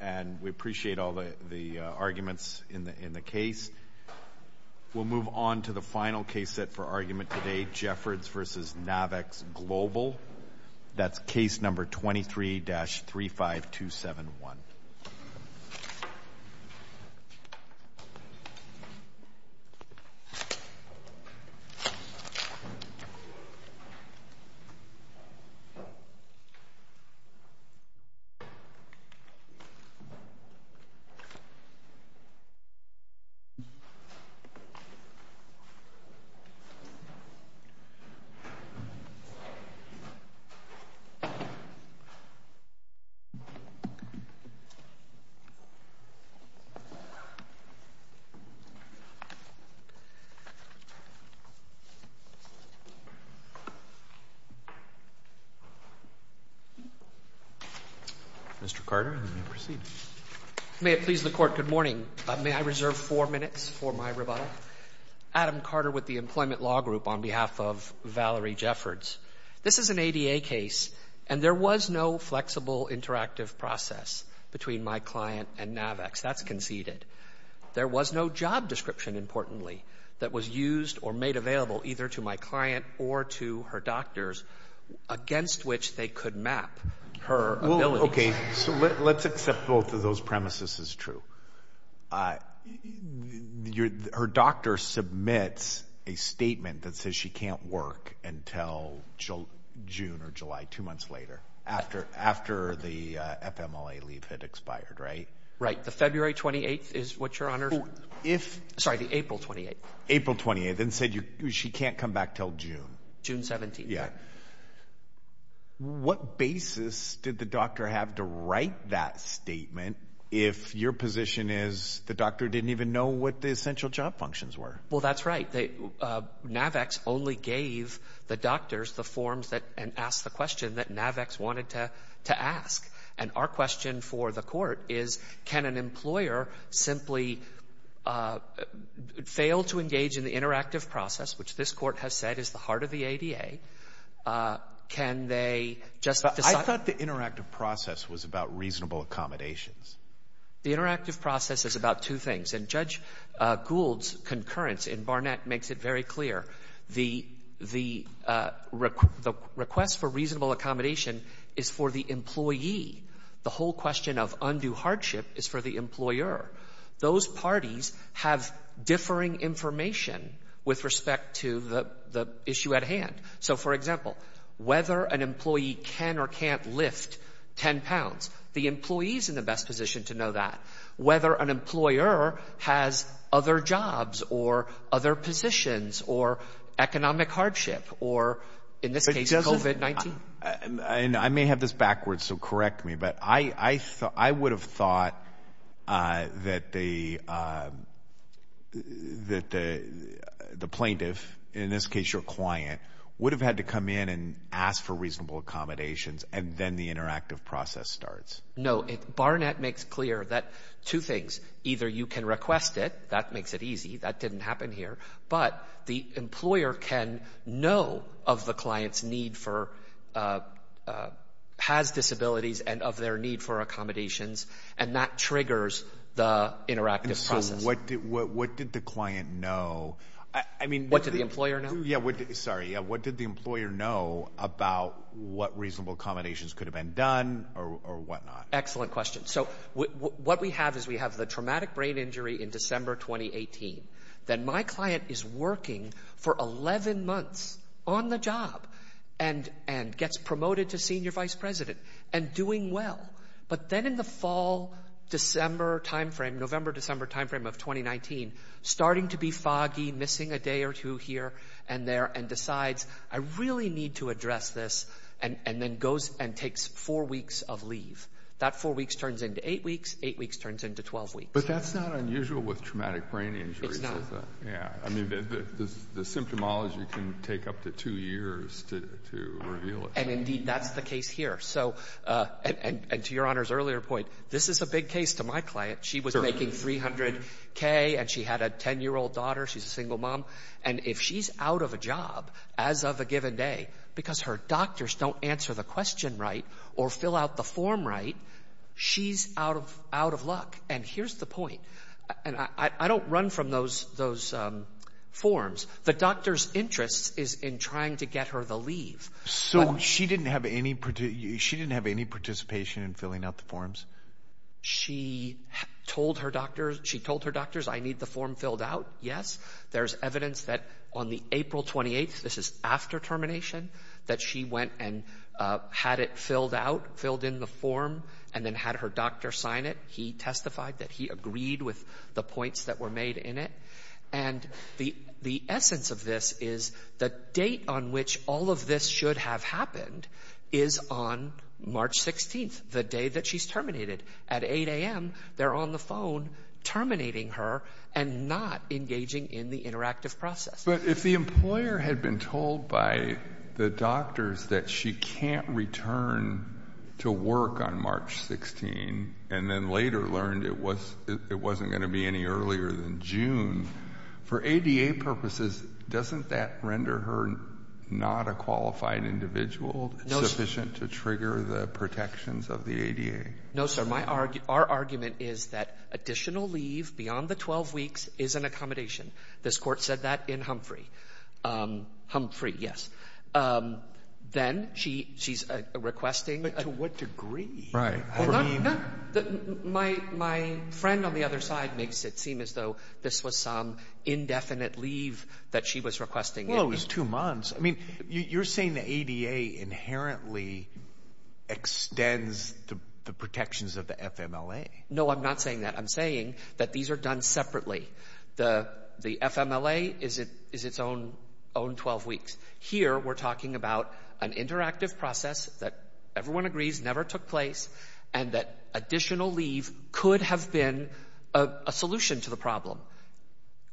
And we appreciate all the arguments in the case. We'll move on to the final case set for argument today, Jeffords v. Navex Global, that's case number 23-35271. Mr. Carter, you may proceed. May it please the Court, good morning. May I reserve four minutes for my rebuttal? Adam Carter with the Employment Law Group on behalf of Valerie Jeffords. This is an ADA case, and there was no flexible interactive process between my client and Navex, that's conceded. There was no job description, importantly, that was used or made available either to my client or to her doctors, against which they could map her ability. Okay, so let's accept both of those premises as true. Her doctor submits a statement that says she can't work until June or July, two months later, after the FMLA leave had expired, right? Right, the February 28th is what, Your Honor? If- Sorry, the April 28th. April 28th, and said she can't come back till June. June 17th. Yeah. What basis did the doctor have to write that statement if your position is the doctor didn't even know what the essential job functions were? Well, that's right. Navex only gave the doctors the forms that, and asked the question that Navex wanted to ask. And our question for the court is, can an employer simply fail to engage in the interactive process, which this court has said is the heart of the ADA? Can they just- I thought the interactive process was about reasonable accommodations. The interactive process is about two things, and Judge Gould's concurrence in Barnett makes it very clear. The request for reasonable accommodation is for the employee. The whole question of undue hardship is for the employer. Those parties have differing information with respect to the issue at hand. So, for example, whether an employee can or can't lift 10 pounds, the employee's in the best position to know that. Whether an employer has other jobs or other positions or economic hardship or, in this case, COVID-19. I may have this backwards, so correct me. But I would have thought that the plaintiff, in this case your client, would have had to come in and ask for reasonable accommodations. And then the interactive process starts. No, Barnett makes clear that two things, either you can request it, that makes it easy, that didn't happen here. But the employer can know of the client's need for, has disabilities and of their need for accommodations. And that triggers the interactive process. What did the client know? I mean- What did the employer know? Yeah, sorry, what did the employer know about what reasonable accommodations could have been done or whatnot? Excellent question. So, what we have is we have the traumatic brain injury in December 2018. Then my client is working for 11 months on the job. And gets promoted to senior vice president and doing well. But then in the fall, December time frame, November, December time frame of 2019, starting to be foggy, missing a day or two here and there, and decides, I really need to address this, and then goes and takes four weeks of leave. That four weeks turns into eight weeks, eight weeks turns into 12 weeks. It's not. Yeah, I mean, the symptomology can take up to two years to reveal it. And indeed, that's the case here. So, and to your honor's earlier point, this is a big case to my client. She was making 300K and she had a ten year old daughter, she's a single mom. And if she's out of a job, as of a given day, because her doctors don't answer the question right, or fill out the form right, she's out of luck. And here's the point. And I don't run from those forms. The doctor's interest is in trying to get her the leave. So she didn't have any participation in filling out the forms? She told her doctors, I need the form filled out, yes. There's evidence that on the April 28th, this is after termination, that she went and had it filled out, filled in the form, and then had her doctor sign it. He testified that he agreed with the points that were made in it. And the essence of this is the date on which all of this should have happened is on March 16th, the day that she's terminated. At 8 AM, they're on the phone terminating her and not engaging in the interactive process. But if the employer had been told by the doctors that she can't return to work on March 16, and then later learned it wasn't gonna be any earlier than June. For ADA purposes, doesn't that render her not a qualified individual, sufficient to trigger the protections of the ADA? No sir, our argument is that additional leave beyond the 12 weeks is an accommodation. This court said that in Humphrey, Humphrey, yes. Then she's requesting- But to what degree? Right. No, my friend on the other side makes it seem as though this was some indefinite leave that she was requesting. Well, it was two months. I mean, you're saying the ADA inherently extends the protections of the FMLA. No, I'm not saying that. I'm saying that these are done separately. The FMLA is its own 12 weeks. Here, we're talking about an interactive process that everyone agrees never took place, and that additional leave could have been a solution to the problem.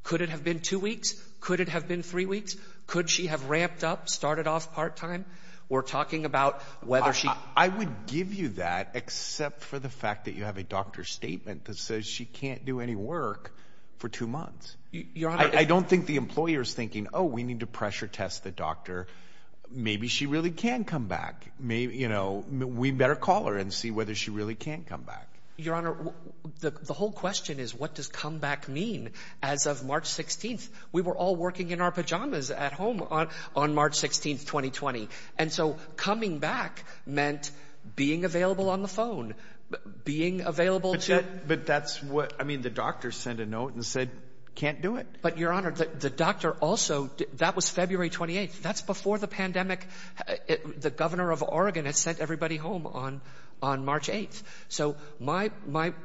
Could it have been two weeks? Could it have been three weeks? Could she have ramped up, started off part-time? We're talking about whether she- I would give you that, except for the fact that you have a doctor's statement Your Honor- I don't think the employer is thinking, oh, we need to pressure test the doctor. Maybe she really can come back. Maybe, you know, we better call her and see whether she really can come back. Your Honor, the whole question is, what does come back mean? As of March 16th, we were all working in our pajamas at home on March 16th, 2020. And so coming back meant being available on the phone, being available to- But that's what, I mean, the doctor sent a note and said, can't do it. But, Your Honor, the doctor also- That was February 28th. That's before the pandemic. The governor of Oregon has sent everybody home on March 8th. So my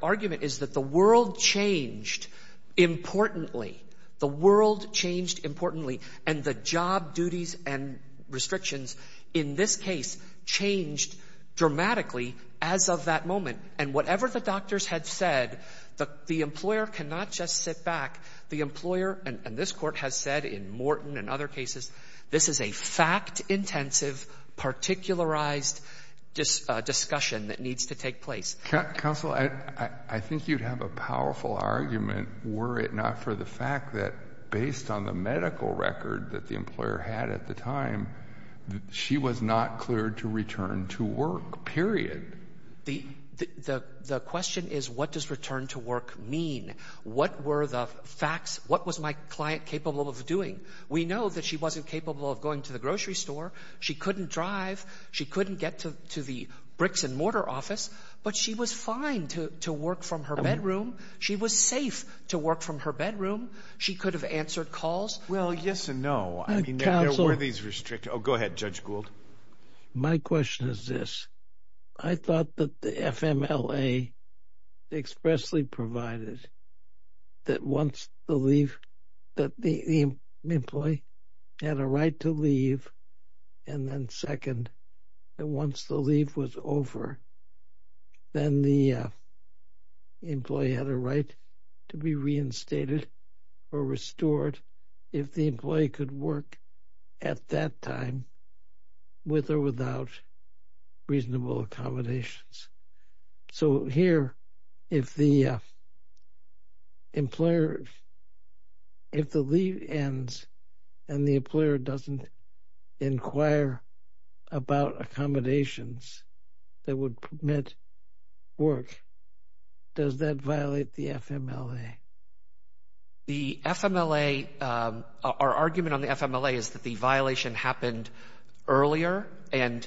argument is that the world changed importantly. The world changed importantly. And the job duties and restrictions in this case changed dramatically as of that moment. And whatever the doctors had said, the employer cannot just sit back. The employer, and this court has said in Morton and other cases, this is a fact-intensive, particularized discussion that needs to take place. Counsel, I think you'd have a powerful argument, were it not for the fact that, based on the medical record that the employer had at the time, she was not cleared to return to work, period. The question is, what does return to work mean? What were the facts? What was my client capable of doing? We know that she wasn't capable of going to the grocery store. She couldn't drive. She couldn't get to the bricks and mortar office. But she was fine to work from her bedroom. She was safe to work from her bedroom. She could have answered calls. Well, yes and no. I mean, there were these restrictions. Oh, go ahead, Judge Gould. My question is this. I thought that the FMLA expressly provided that once the leave, that the employee had a right to leave, and then second, that once the leave was over, then the employee had a right to be reinstated or restored if the employee could work at that time with or without reasonable accommodations. So here, if the employer, if the leave ends and the employer doesn't inquire about accommodations that would permit work, does that violate the FMLA? The FMLA, our argument on the FMLA is that the violation happened earlier and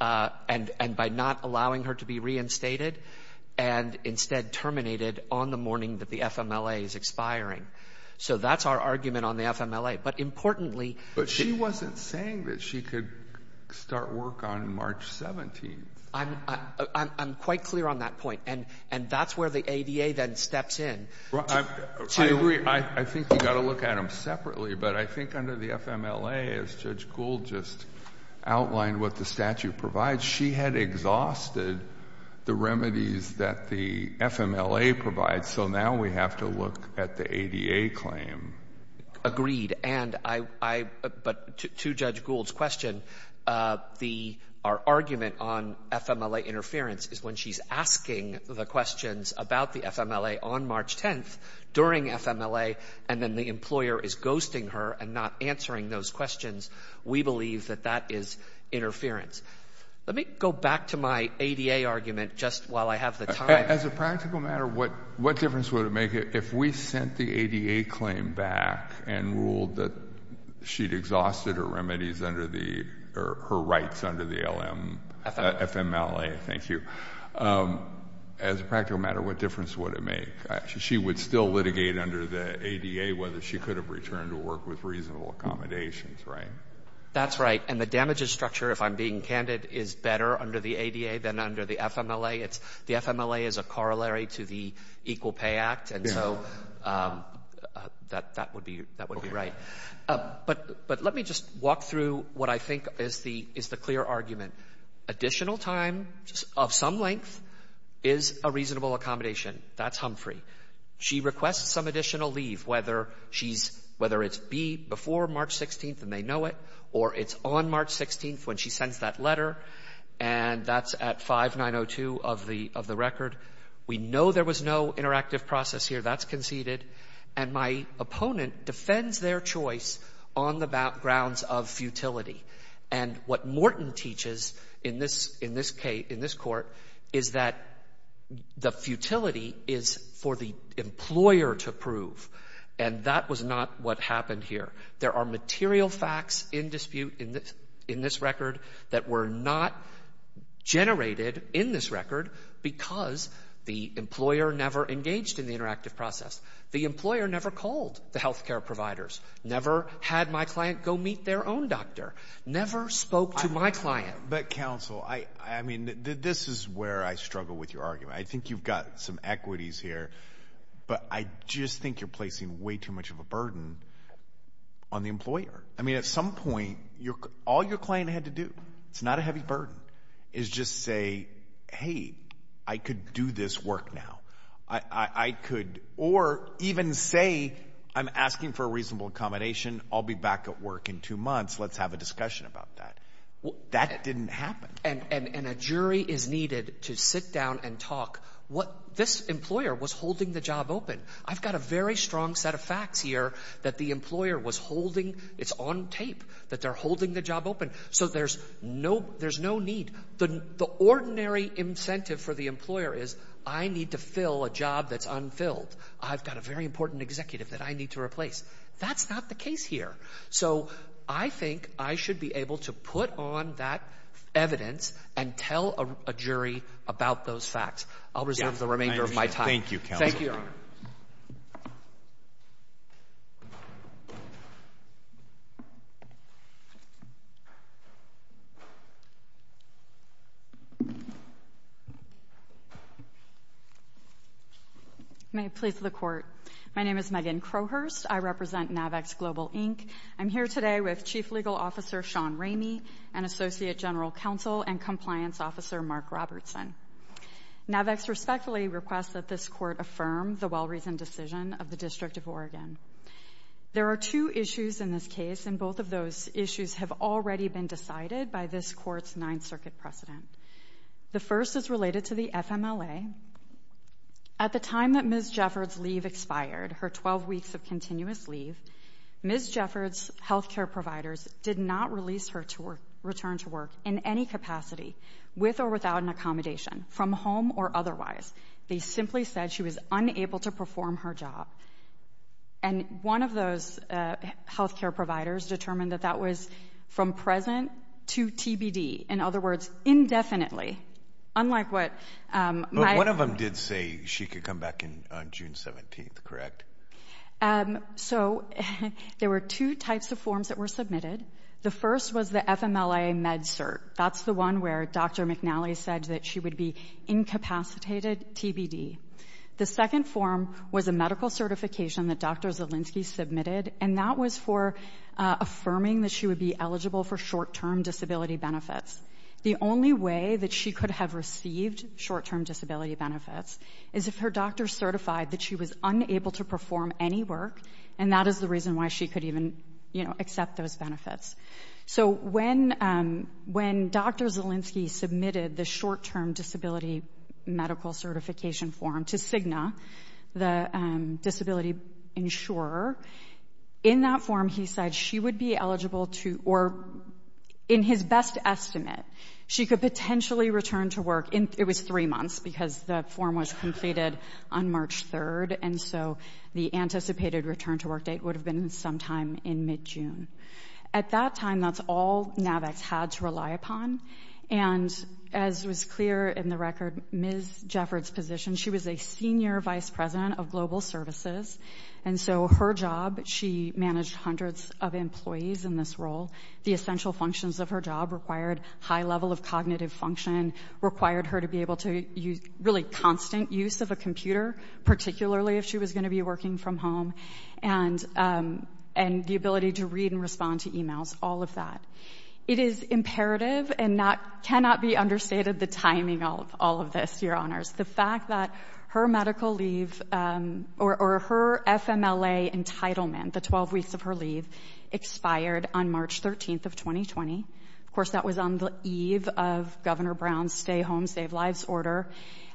by not allowing her to be reinstated and instead terminated on the morning that the FMLA is expiring. So that's our argument on the FMLA. But importantly... But she wasn't saying that she could start work on March 17th. I'm quite clear on that point. And that's where the ADA then steps in. I agree. I think you've got to look at them separately. But I think under the FMLA, as Judge Gould just outlined what the statute provides, she had exhausted the remedies that the FMLA provides. So now we have to look at the ADA claim. Agreed. And I... But to Judge Gould's question, our argument on FMLA interference is when she's asking the questions about the FMLA on March 10th during FMLA and then the employer is ghosting her and not answering those questions, we believe that that is interference. Let me go back to my ADA argument just while I have the time. As a practical matter, what difference would it make if we sent the ADA claim back and ruled that she'd exhausted her remedies under the... FMLA. FMLA, thank you. As a practical matter, what difference would it make? She would still litigate under the ADA whether she could have returned to work with reasonable accommodations, right? That's right. And the damages structure, if I'm being candid, is better under the ADA than under the FMLA. The FMLA is a corollary to the Equal Pay Act, and so that would be right. But let me just walk through what I think is the clear argument. Additional time of some length is a reasonable accommodation. That's Humphrey. She requests some additional leave, whether it's before March 16th and they know it or it's on March 16th when she sends that letter, and that's at 5902 of the record. We know there was no interactive process here. That's conceded. And my opponent defends their choice on the grounds of futility. And what Morton teaches in this court is that the futility is for the employer to prove, and that was not what happened here. There are material facts in dispute in this record that were not generated in this record because the employer never engaged in the interactive process. The employer never called the health care providers, never had my client go meet their own doctor, never spoke to my client. But, counsel, I mean, this is where I struggle with your argument. I think you've got some equities here, but I just think you're placing way too much of a burden on the employer. I mean, at some point, all your client had to do, it's not a heavy burden, is just say, hey, I could do this work now. I could... Or even say, I'm asking for a reasonable accommodation, I'll be back at work in two months, let's have a discussion about that. That didn't happen. And a jury is needed to sit down and talk. This employer was holding the job open. I've got a very strong set of facts here that the employer was holding... It's on tape that they're holding the job open. So there's no need. The ordinary incentive for the employer is, I need to fill a job that's unfilled. I've got a very important executive that I need to replace. That's not the case here. So I think I should be able to put on that evidence and tell a jury about those facts. I'll reserve the remainder of my time. Thank you, counsel. Thank you, Your Honour. May it please the Court. My name is Megan Crowhurst. I represent NAVX Global Inc. I'm here today with Chief Legal Officer Sean Ramey and Associate General Counsel and Compliance Officer Mark Robertson. NAVX respectfully requests that this Court affirm the well-reasoned decision of the District of Oregon. There are two issues in this case, and both of those issues have already been decided by this Court's Ninth Circuit precedent. The first is related to the FMLA. At the time that Ms. Jeffords' leave expired, her 12 weeks of continuous leave, Ms. Jeffords' health care providers did not release her to return to work in any capacity, with or without an accommodation, from home or otherwise. They simply said she was unable to perform her job. And one of those health care providers determined that that was from present to TBD. In other words, indefinitely, unlike what... But one of them did say she could come back on June 17th, correct? So, there were two types of forms that were submitted. The first was the FMLA Med-Cert. That's the one where Dr McNally said that she would be incapacitated TBD. The second form was a medical certification that Dr. Zielinski submitted, and that was for affirming that she would be eligible for short-term disability benefits. The only way that she could have received short-term disability benefits is if her doctor certified that she was unable to perform any work, and that is the reason why she could even, you know, accept those benefits. So, when Dr Zielinski submitted the short-term disability medical certification form to Cigna, the disability insurer, in that form, he said she would be eligible to... In his best estimate, she could potentially return to work in... It was three months, because the form was completed on March 3rd, and so the anticipated return-to-work date would have been sometime in mid-June. At that time, that's all NAVACs had to rely upon, and as was clear in the record, Ms. Jeffords' position, she was a senior vice president of global services, and so her job, she managed hundreds of employees in this role, the essential functions of her job required high level of cognitive function, required her to be able to use really constant use of a computer, particularly if she was going to be working from home, and the ability to read and respond to emails, all of that. It is imperative and cannot be understated the timing of all of this, Your Honours, the fact that her medical leave, or her FMLA entitlement, the 12 weeks of her leave, expired on March 13th of 2020. Of course, that was on the eve of Governor Brown's Stay Home, Save Lives order,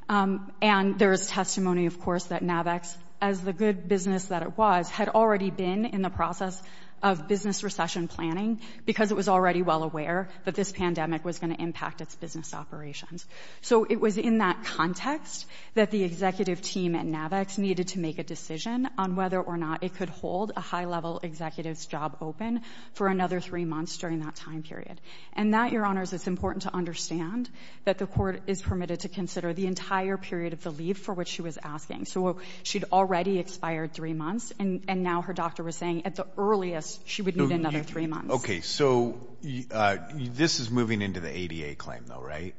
and there is testimony, of course, that NAVACs, as the good business that it was, had already been in the process of business recession planning, because it was already well aware that this pandemic was going to impact its business operations. So it was in that context that the executive team at NAVACs needed to make a decision on whether or not it could hold a high-level executive's job open for another three months during that time period. And that, Your Honours, it's important to understand that the court is permitted to consider the entire period of the leave for which she was asking. So she'd already expired three months, and now her doctor was saying at the earliest she would need another three months. Okay, so this is moving into the ADA claim, though, right?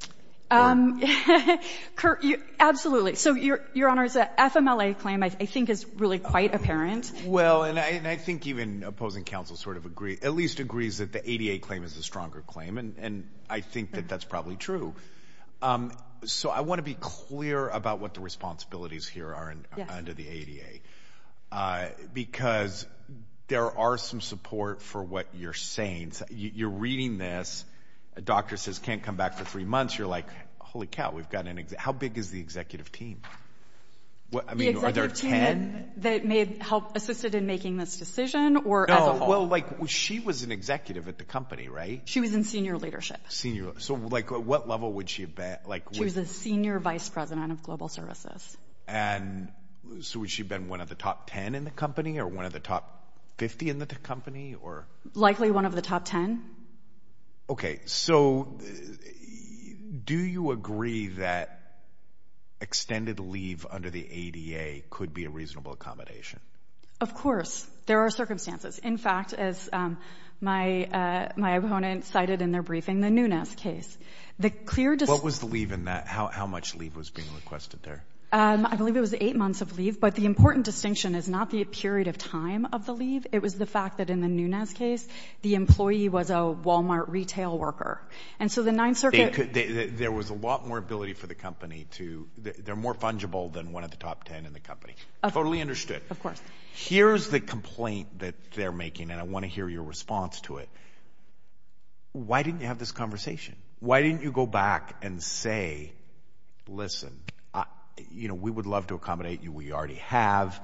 Um, absolutely. So, Your Honours, the FMLA claim, I think, is really quite apparent. Well, and I think even opposing counsel sort of agrees, at least agrees that the ADA claim is the stronger claim, and I think that that's probably true. So I want to be clear about what the responsibilities here are under the ADA, because there are some support for what you're saying. You're reading this. A doctor says, can't come back for three months. You're like, holy cow, we've got an executive. An executive team. The executive team that may have helped, assisted in making this decision, or as a whole? No, well, like, she was an executive at the company, right? She was in senior leadership. Senior, so, like, at what level would she have been? She was a senior vice president of global services. And so would she have been one of the top 10 in the company, or one of the top 50 in the company, or? Likely one of the top 10. Okay, so, do you agree that extended leave under the ADA could be a reasonable accommodation? Of course. There are circumstances. In fact, as my opponent cited in their briefing, the Nunes case, the clear... What was the leave in that? How much leave was being requested there? I believe it was eight months of leave, but the important distinction is not the period of time of the leave. It was the fact that in the Nunes case, the employee was a Walmart retail worker. And so the Ninth Circuit... There was a lot more ability for the company to... They're more fungible than one of the top 10 in the company. Totally understood. Of course. Here's the complaint that they're making, and I want to hear your response to it. Why didn't you have this conversation? Why didn't you go back and say, listen, you know, we would love to accommodate you. We already have.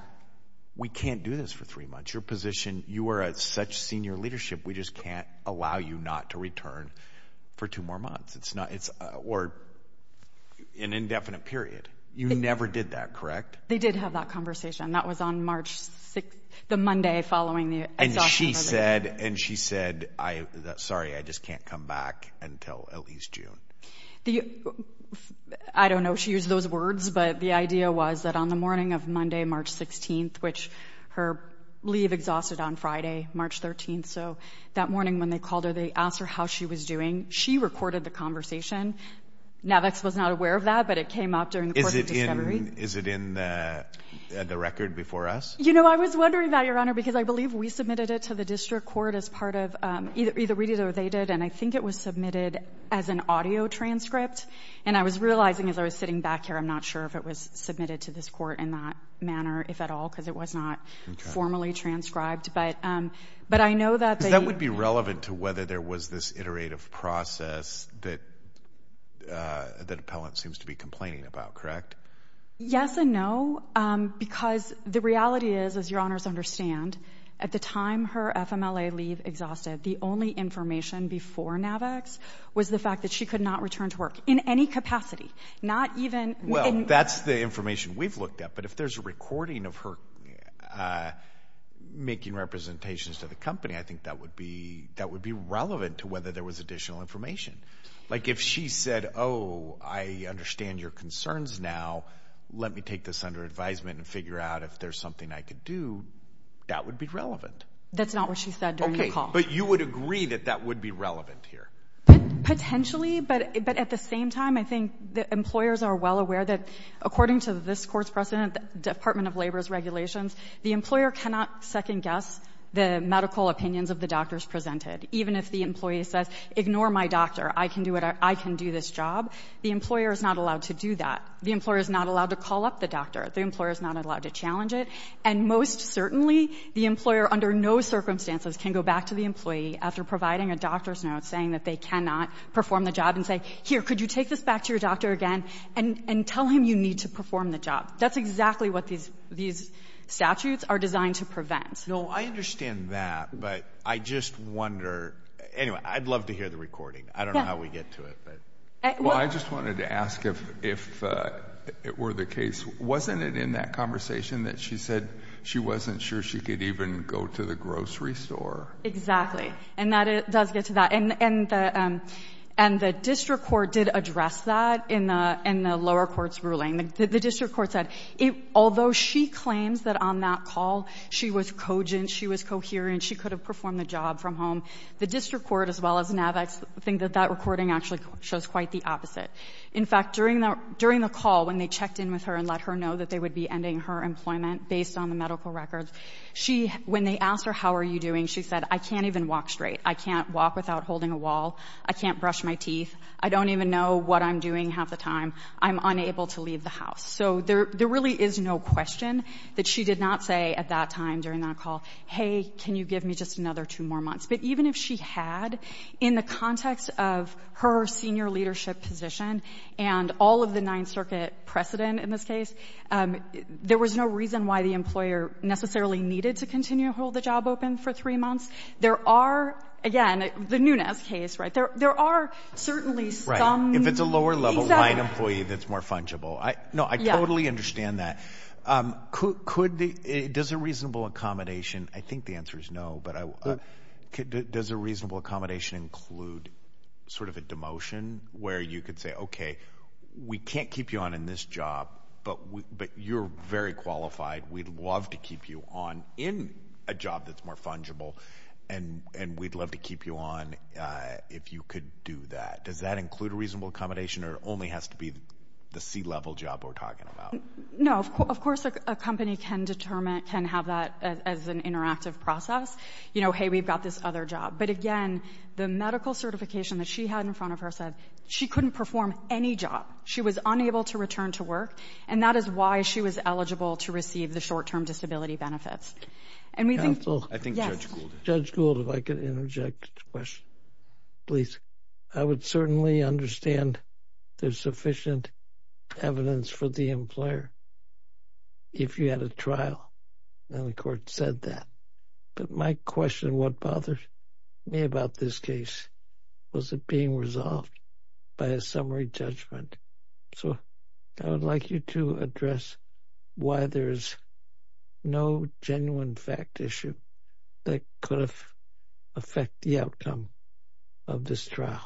We can't do this for three months. You are at such senior leadership. We just can't allow you not to return for two more months. It's not... Or an indefinite period. You never did that, correct? They did have that conversation. That was on March 6th, the Monday following the... And she said, and she said, sorry, I just can't come back until at least June. I don't know if she used those words, but the idea was that on the morning of Monday, March 16th, which her leave exhausted on Friday, March 13th. So that morning when they called her, they asked her how she was doing. She recorded the conversation. Navix was not aware of that, but it came up during the court's discovery. Is it in the record before us? You know, I was wondering about your honor, because I believe we submitted it to the district court as part of either we did or they did. And I think it was submitted as an audio transcript. And I was realizing as I was sitting back here, I'm not sure if it was submitted to this court in that manner, if at all, because it was not formally transcribed, but I know that... That would be relevant to whether there was this iterative process that the appellant seems to be complaining about, correct? Yes and no, because the reality is, as your honors understand, at the time her FMLA leave exhausted, the only information before Navix was the fact that she could not return to work in any capacity, not even... Well, that's the information we've looked at, but if there's a recording of her making representations to the company, I think that would be relevant to whether there was additional information. Like if she said, oh, I understand your concerns now, let me take this under advisement and figure out if there's something I could do, that would be relevant. That's not what she said during the call. But you would agree that that would be relevant here? Potentially, but at the same time, I think the employers are well aware that according to this court's precedent, Department of Labor's regulations, the employer cannot second guess the medical opinions of the doctors presented. Even if the employee says, ignore my doctor, I can do this job, the employer is not allowed to do that. The employer is not allowed to call up the doctor. The employer is not allowed to challenge it. And most certainly, the employer, under no circumstances, can go back to the employee after providing a doctor's note saying that they cannot perform the job and say, here, could you take this back to your doctor again and tell him you need to perform the job. That's exactly what these statutes are designed to prevent. No, I understand that, but I just wonder, anyway, I'd love to hear the recording. I don't know how we get to it, but. Well, I just wanted to ask if it were the case, wasn't it in that conversation that she said she wasn't sure she could even go to the grocery store? Exactly, and that does get to that. And the district court did address that in the lower court's ruling. The district court said, although she claims that on that call, she was cogent, she was coherent, she could have performed the job from home, the district court, as well as NAVX, think that that recording actually shows quite the opposite. In fact, during the call, when they checked in with her and let her know that they would be ending her employment based on the medical records, when they asked her, how are you doing, she said, I can't even walk straight. I can't walk without holding a wall. I can't brush my teeth. I don't even know what I'm doing half the time. I'm unable to leave the house. So there really is no question that she did not say at that time during that call, hey, can you give me just another two more months? But even if she had, in the context of her senior leadership position and all of the Ninth Circuit precedent in this case, there was no reason why the employer necessarily needed to continue to hold the job open for three months. There are, again, the Nunez case, right? There are certainly some- If it's a lower level line employee that's more fungible. No, I totally understand that. Does a reasonable accommodation, I think the answer is no, but does a reasonable accommodation include sort of a demotion where you could say, okay, we can't keep you on in this job, but you're very qualified. We'd love to keep you on in a job that's more fungible and we'd love to keep you on if you could do that. Does that include a reasonable accommodation or only has to be the C-level job we're talking about? No, of course a company can determine, can have that as an interactive process. You know, hey, we've got this other job. But again, the medical certification that she had in front of her said she couldn't perform any job. She was unable to return to work and that is why she was eligible to receive the short-term disability benefits. And we think- I think Judge Gould. Judge Gould, if I could interject a question, please. I would certainly understand there's sufficient evidence for the employer if you had a trial and the court said that. But my question, what bothers me about this case? Was it being resolved by a summary judgment? So I would like you to address why there's no genuine fact issue that could affect the outcome of this trial.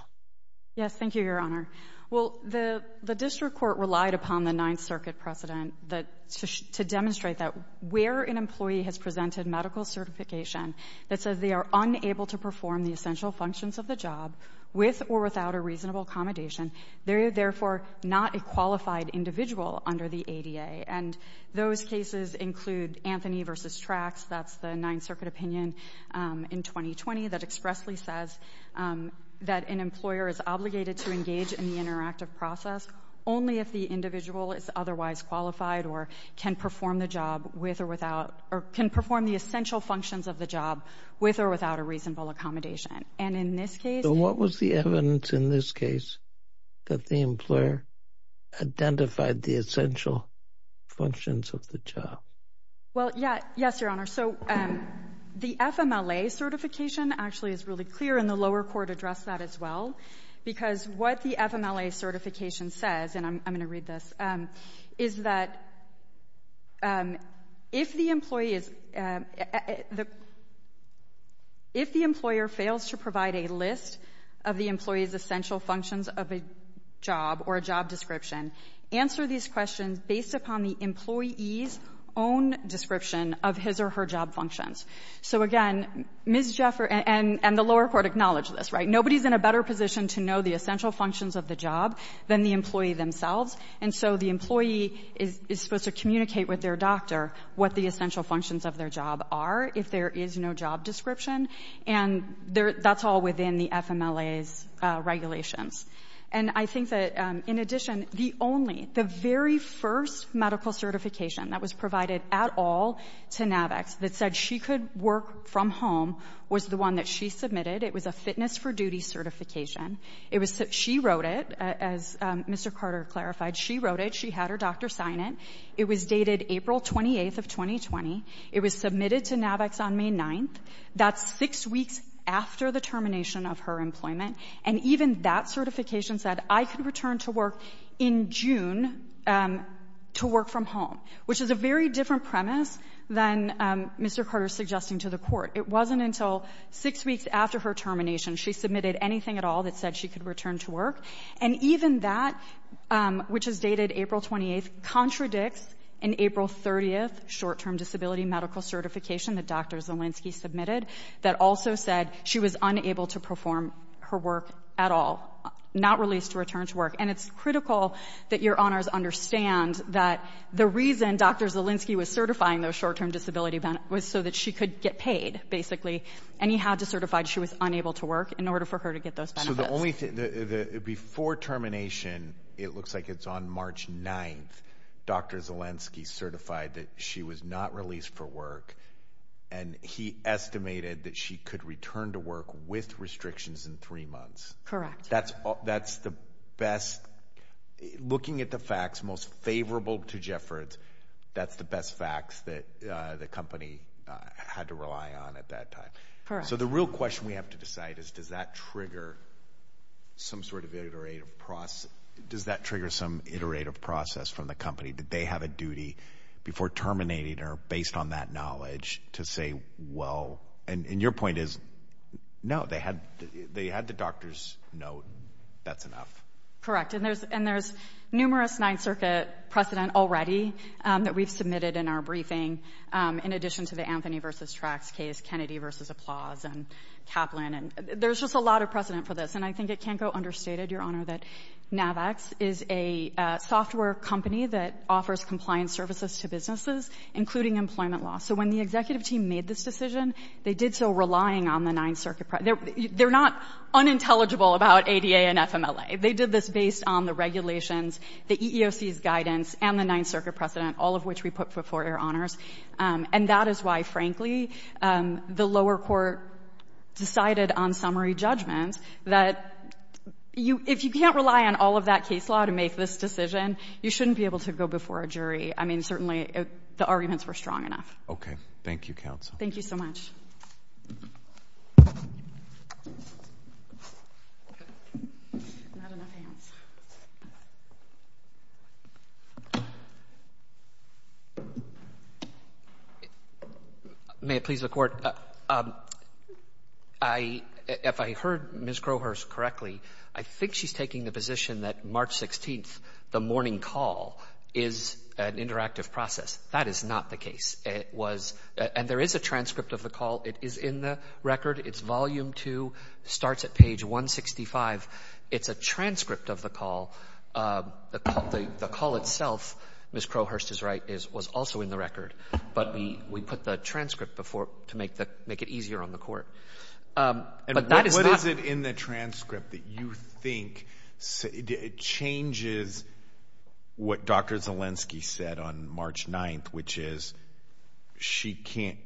Yes, thank you, Your Honor. Well, the district court relied upon the Ninth Circuit precedent to demonstrate that where an employee has presented medical certification that says they are unable to perform the essential functions of the job with or without a reasonable accommodation, they're therefore not a qualified individual under the ADA. And those cases include Anthony versus Tracks. That's the Ninth Circuit opinion in 2020 that expressly says that an employer is obligated to engage in the interactive process only if the individual is otherwise qualified or can perform the job with or without, or can perform the essential functions of the job with or without a reasonable accommodation. And in this case- There's no evidence in this case that the employer identified the essential functions of the job. Well, yeah, yes, Your Honor. So the FMLA certification actually is really clear, and the lower court addressed that as well, because what the FMLA certification says, and I'm gonna read this, is that if the employee is, if the employer fails to provide a list of the employee's essential functions of a job or a job description, answer these questions based upon the employee's own description of his or her job functions. So again, Ms. Jaffer and the lower court acknowledge this, right? Nobody's in a better position to know the essential functions of the job than the employee themselves, and so the employee is supposed to communicate with their doctor what the essential functions of their job are if there is no job description, and that's all within the FMLA's regulations. And I think that, in addition, the only, the very first medical certification that was provided at all to NAVX that said she could work from home was the one that she submitted. It was a fitness for duty certification. It was, she wrote it, as Mr. Carter clarified, she wrote it, she had her doctor sign it. It was dated April 28th of 2020. It was submitted to NAVX on May 9th. That's six weeks after the termination of her employment, and even that certification said I could return to work in June to work from home, which is a very different premise than Mr. Carter's suggesting to the court. It wasn't until six weeks after her termination she submitted anything at all that said she could return to work, and even that, which is dated April 28th, contradicts an April 30th short-term disability medical certification that Dr. Zielinski submitted that also said she was unable to perform her work at all, not released to return to work, and it's critical that your honors understand that the reason Dr. Zielinski was certifying those short-term disability benefits was so that she could get paid, basically, and he had to certify she was unable to work in order for her to get those benefits. So the only thing, before termination, it looks like it's on March 9th, Dr. Zielinski certified that she was not released for work, and he estimated that she could return to work with restrictions in three months. Correct. That's the best, looking at the facts, most favorable to Jeffords, that's the best facts that the company had to rely on at that time. Correct. So the real question we have to decide is does that trigger some sort of iterative process, does that trigger some iterative process from the company? Did they have a duty, before terminating her, based on that knowledge, to say, well, and your point is, no, they had the doctor's note, that's enough. Correct, and there's numerous Ninth Circuit precedent already that we've submitted in our briefing, in addition to the Anthony versus Trax case, Kennedy versus Applause, and Kaplan, and there's just a lot of precedent for this, and I think it can't go understated, your honor, that Navax is a software company that offers compliance services to businesses, including employment law. So when the executive team made this decision, they did so relying on the Ninth Circuit precedent. They're not unintelligible about ADA and FMLA, they did this based on the regulations, the EEOC's guidance, and the Ninth Circuit precedent, all of which we put before your honors, and that is why, frankly, the lower court decided on summary judgments, that if you can't rely on all of that case law to make this decision, you shouldn't be able to go before a jury. I mean, certainly, the arguments were strong enough. Okay, thank you, counsel. Thank you so much. May it please the court, if I heard Ms. Crowhurst correctly, I think she's taking the position that March 16th, the morning call, is an interactive process. That is not the case. It was, and there is a transcript of the call. It is in the record. It's volume two, starts at page 165. It's a transcript of the call. The call itself, Ms. Crowhurst is right, was also in the record, but we put the transcript before to make it easier on the court. But that is not- And what is it in the transcript that you think changes what Dr. Zielinski said on March 9th, which is she can't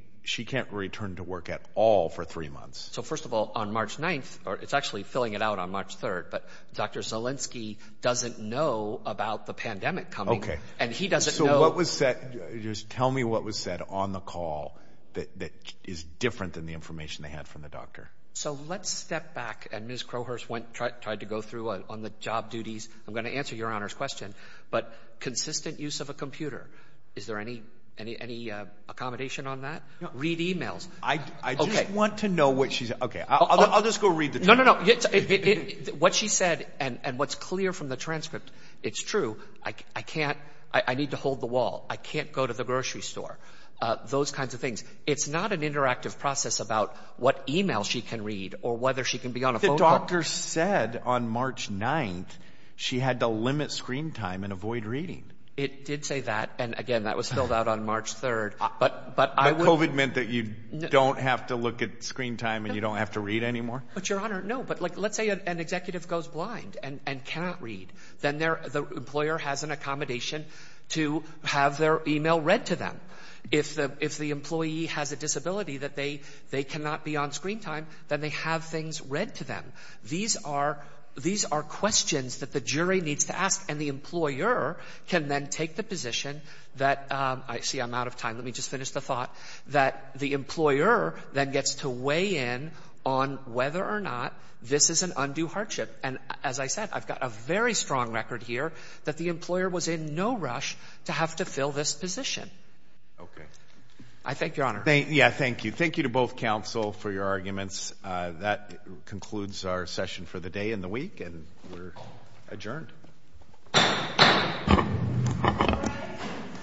return to work at all for three months? So first of all, on March 9th, or it's actually filling it out on March 3rd, but Dr. Zielinski doesn't know about the pandemic coming, and he doesn't know- So what was said, just tell me what was said on the call that is different than the information they had from the doctor. So let's step back, and Ms. Crowhurst tried to go through on the job duties. I'm gonna answer Your Honor's question, but consistent use of a computer. Is there any accommodation on that? Read emails. I just want to know what she said. Okay, I'll just go read the transcript. No, no, no. What she said, and what's clear from the transcript, it's true, I need to hold the wall. I can't go to the grocery store. Those kinds of things. It's not an interactive process about what emails she can read, or whether she can be on a phone call. The doctor said on March 9th, she had to limit screen time and avoid reading. It did say that, and again, that was filled out on March 3rd, but I would- But COVID meant that you don't have to look at screen time, and you don't have to read anymore? But Your Honor, no. But let's say an executive goes blind and cannot read, then the employer has an accommodation to have their email read to them. If the employee has a disability that they cannot be on screen time, then they have things read to them. These are questions that the jury needs to ask, and the employer can then take the position that, I see I'm out of time, let me just finish the thought, that the employer then gets to weigh in on whether or not this is an undue hardship. And as I said, I've got a very strong record here that the employer was in no rush to have to fill this position. Okay. I thank Your Honor. Yeah, thank you. Thank you to both counsel for your arguments. That concludes our session for the day and the week, and we're adjourned.